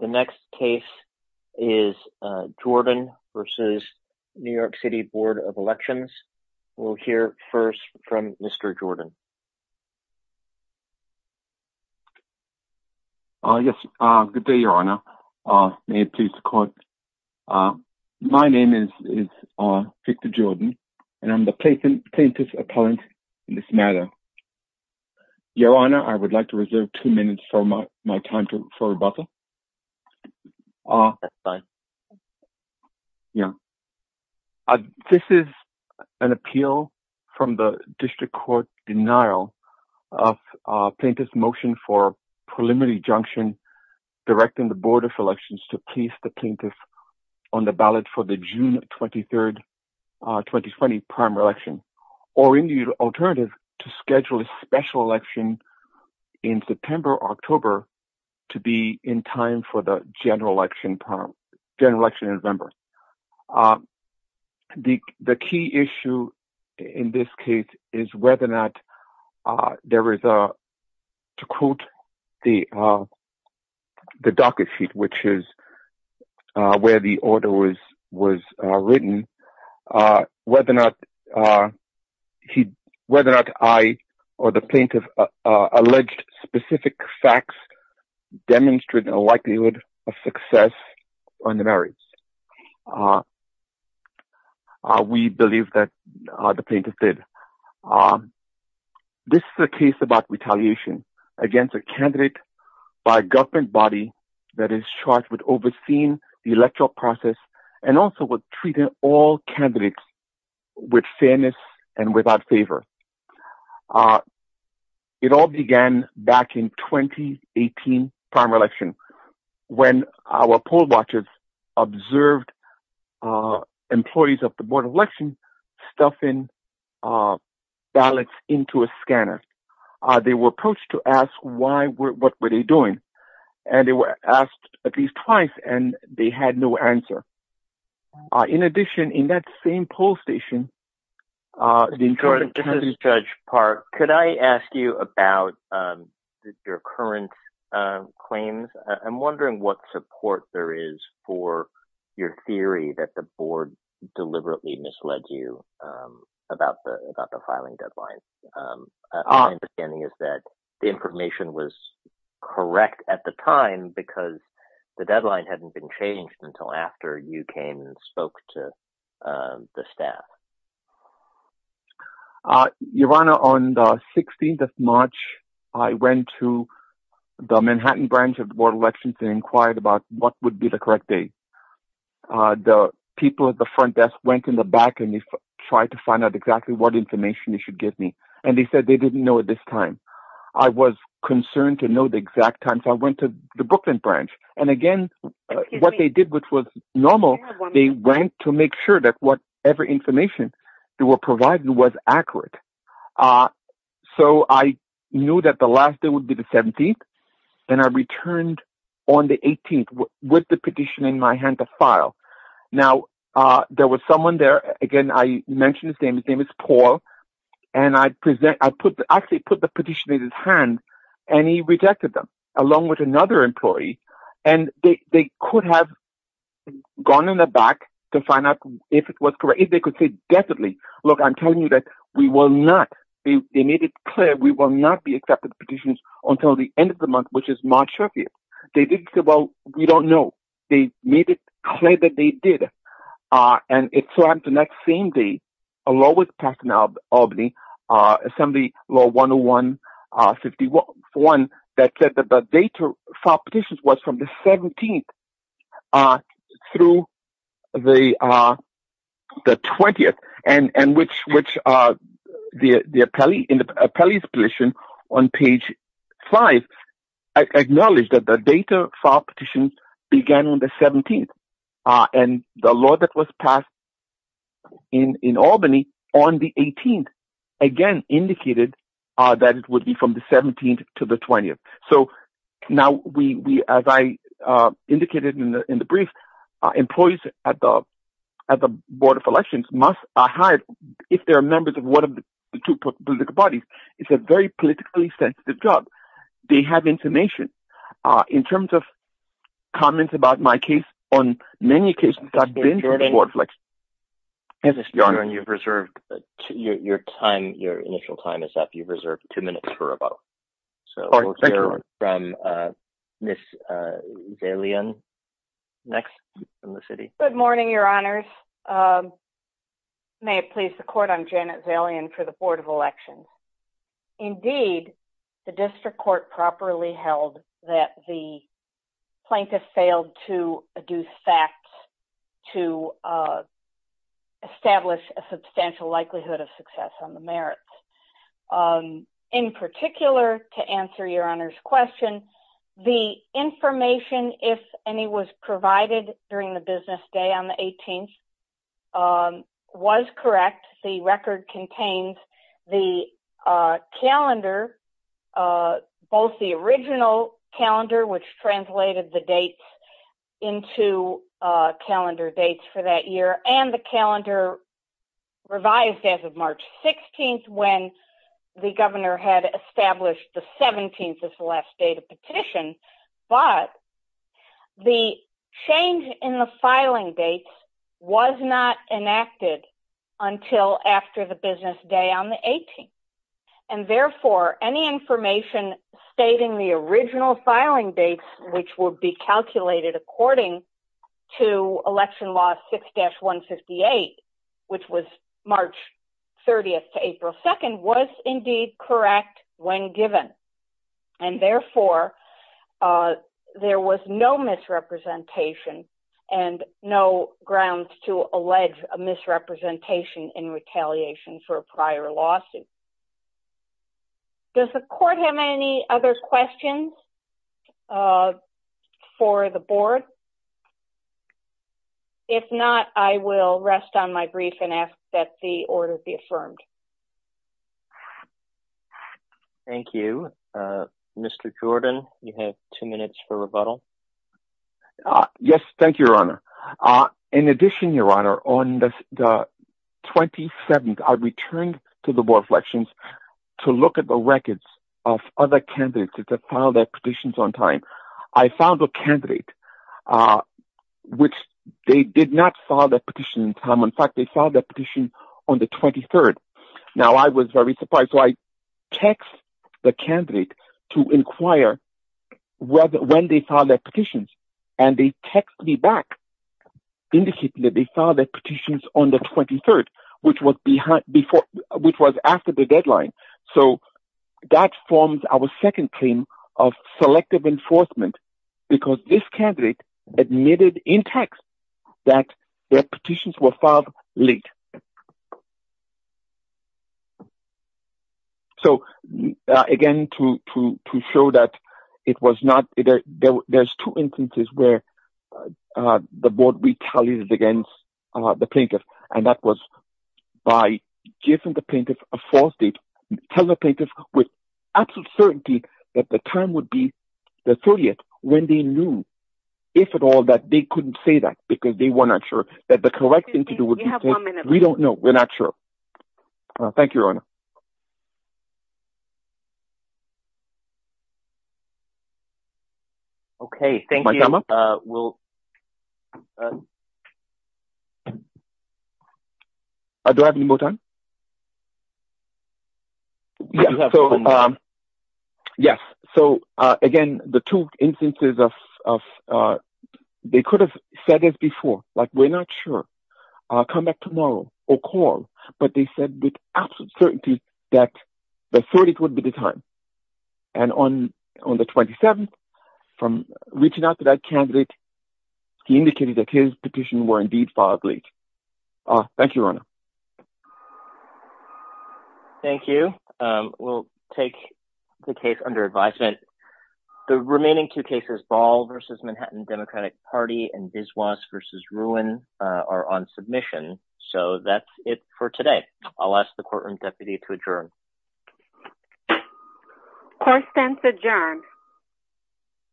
The next case is Jordan v. New York City Board of Elections. We'll hear first from Mr. Jordan. Yes, good day, Your Honor. May it please the Court. My name is Victor Jordan, and I'm the plaintiff's appellant in this matter. Your Honor, I would like to reserve two minutes for my time for rebuttal. This is an appeal from the district court denial of plaintiff's motion for preliminary junction directing the Board of Elections to place the plaintiff on the ballot for the June 23, 2020 primary election, or any alternative to schedule a special election in September or October to be in time for the general election in November. The key issue in this case is whether or not there is a, to quote the docket sheet, which is where the order was written, whether or not I or the plaintiff alleged specific facts demonstrated a likelihood of success on the merits. We believe that the plaintiff did. This is a case about retaliation against a candidate by a government body that is charged with overseeing the electoral process and also with treating all candidates with fairness and without favor. It all began back in 2018 primary election when our poll watchers observed employees of the Board of Elections stuffing ballots into a scanner. They were approached to ask why, what were they doing? And they were asked at least twice, and they had no answer. In addition, in that same poll station, the judge says- Judge Park, could I ask you about your current claims? I'm wondering what support there is for your theory that the board deliberately misled you about the filing deadline. My understanding is that the information was correct at the time because the deadline hadn't been changed until after you came and spoke to the staff. Your Honor, on the 16th of March, I went to the Manhattan branch of the Board of Elections and inquired about what would be the correct date. The people at the front desk went in the back and they tried to find out exactly what information they should give me, and they said they didn't know at this time. I was concerned to know the exact time, so I went to the Brooklyn branch. And again, what they did, which was normal, they went to make sure that whatever information they were providing was accurate. So I knew that the last day would be the 17th, and I returned on the 18th with the petition in my hand to file. Now, there was someone there. Again, I mentioned his name. His name is Paul. And I actually put the petition in his hand, and he rejected them, along with another employee. And they could have gone in the back to find out if it was correct, if they could say definitely. Look, I'm telling you that we will not, they made it clear we will not be accepting petitions until the end of the month, which is March 30th. They didn't say, well, we don't know. They made it clear that they did. And it so happened the next same day, a law was passed in Albany, Assembly Law 101-51, that said that the date to file petitions was from the 17th through the 20th, and which the appellee's petition on page five acknowledged that the date to file petitions began on the 17th. And the law that was passed in Albany on the 18th, again, indicated that it would be from the 17th to the 20th. So now, as I indicated in the brief, employees at the Board of Elections must hide if they're members of one of the two political bodies. It's a very politically sensitive job. They have information. In terms of comments about my case, on many occasions, I've been to the Board of Elections. Yes, Your Honor, you've reserved your time, your initial time is up. You've reserved two minutes for a vote. So we'll hear from Ms. Zalian next from the city. Good morning, Your Honors. May it please the Court, I'm Janet Zalian for the Board of Elections. Indeed, the district court properly held that the plaintiff failed to adduce facts to establish a substantial likelihood of success on the merits. In particular, to answer Your Honor's question, the information, if any, was provided during the business day on the 18th was correct. The record contains the calendar, both the original calendar, which translated the dates into calendar dates for that year and the calendar revised as of March 16th when the governor had established the 17th as the last date of petition. But the change in the filing dates was not enacted until after the business day on the 18th. And therefore, any information stating the original filing dates, which would be calculated according to election law 6-158, which was March 30th to April 2nd, was indeed correct when given. And therefore, there was no misrepresentation and no grounds to allege a misrepresentation in retaliation for a prior lawsuit. Does the court have any other questions for the board? If not, I will rest on my brief and ask that the order be affirmed. Thank you. Mr. Jordan, you have two minutes for rebuttal. Yes, thank you, Your Honor. In addition, Your Honor, on the 27th, I returned to the board of elections to look at the records of other candidates that have filed their petitions on time. I found a candidate which they did not file their petition in time. In fact, they filed their petition on the 23rd. Now, I was very surprised. So I text the candidate to inquire when they filed their petitions, and they text me back, indicating that they filed their petitions on the 23rd, which was after the deadline. So that forms our second claim of selective enforcement, because this candidate admitted in text that their petitions were filed late. Okay. So again, to show that it was not, there's two instances where the board retaliated against the plaintiff, and that was by giving the plaintiff a false date, telling the plaintiff with absolute certainty that the time would be the 30th, when they knew, if at all, that they couldn't say that, because they were not sure that the correct thing to do would be to, we don't know. We're not sure. Thank you, Your Honor. Okay, thank you. My time up? Do I have any more time? Yeah, so, yes. So again, the two instances of, they could have said it before, like, we're not sure. Come back tomorrow, or call, but they said with absolute certainty that the 30th would be the time. And on the 27th, from reaching out to that candidate, he indicated that his petitions were indeed filed late. Thank you, Your Honor. Thank you. We'll take the case under advisement. The remaining two cases, Ball v. Manhattan Democratic Party and Biswas v. Ruin are on submission. So that's it for today. I'll ask the courtroom deputy to adjourn. Court stands adjourned.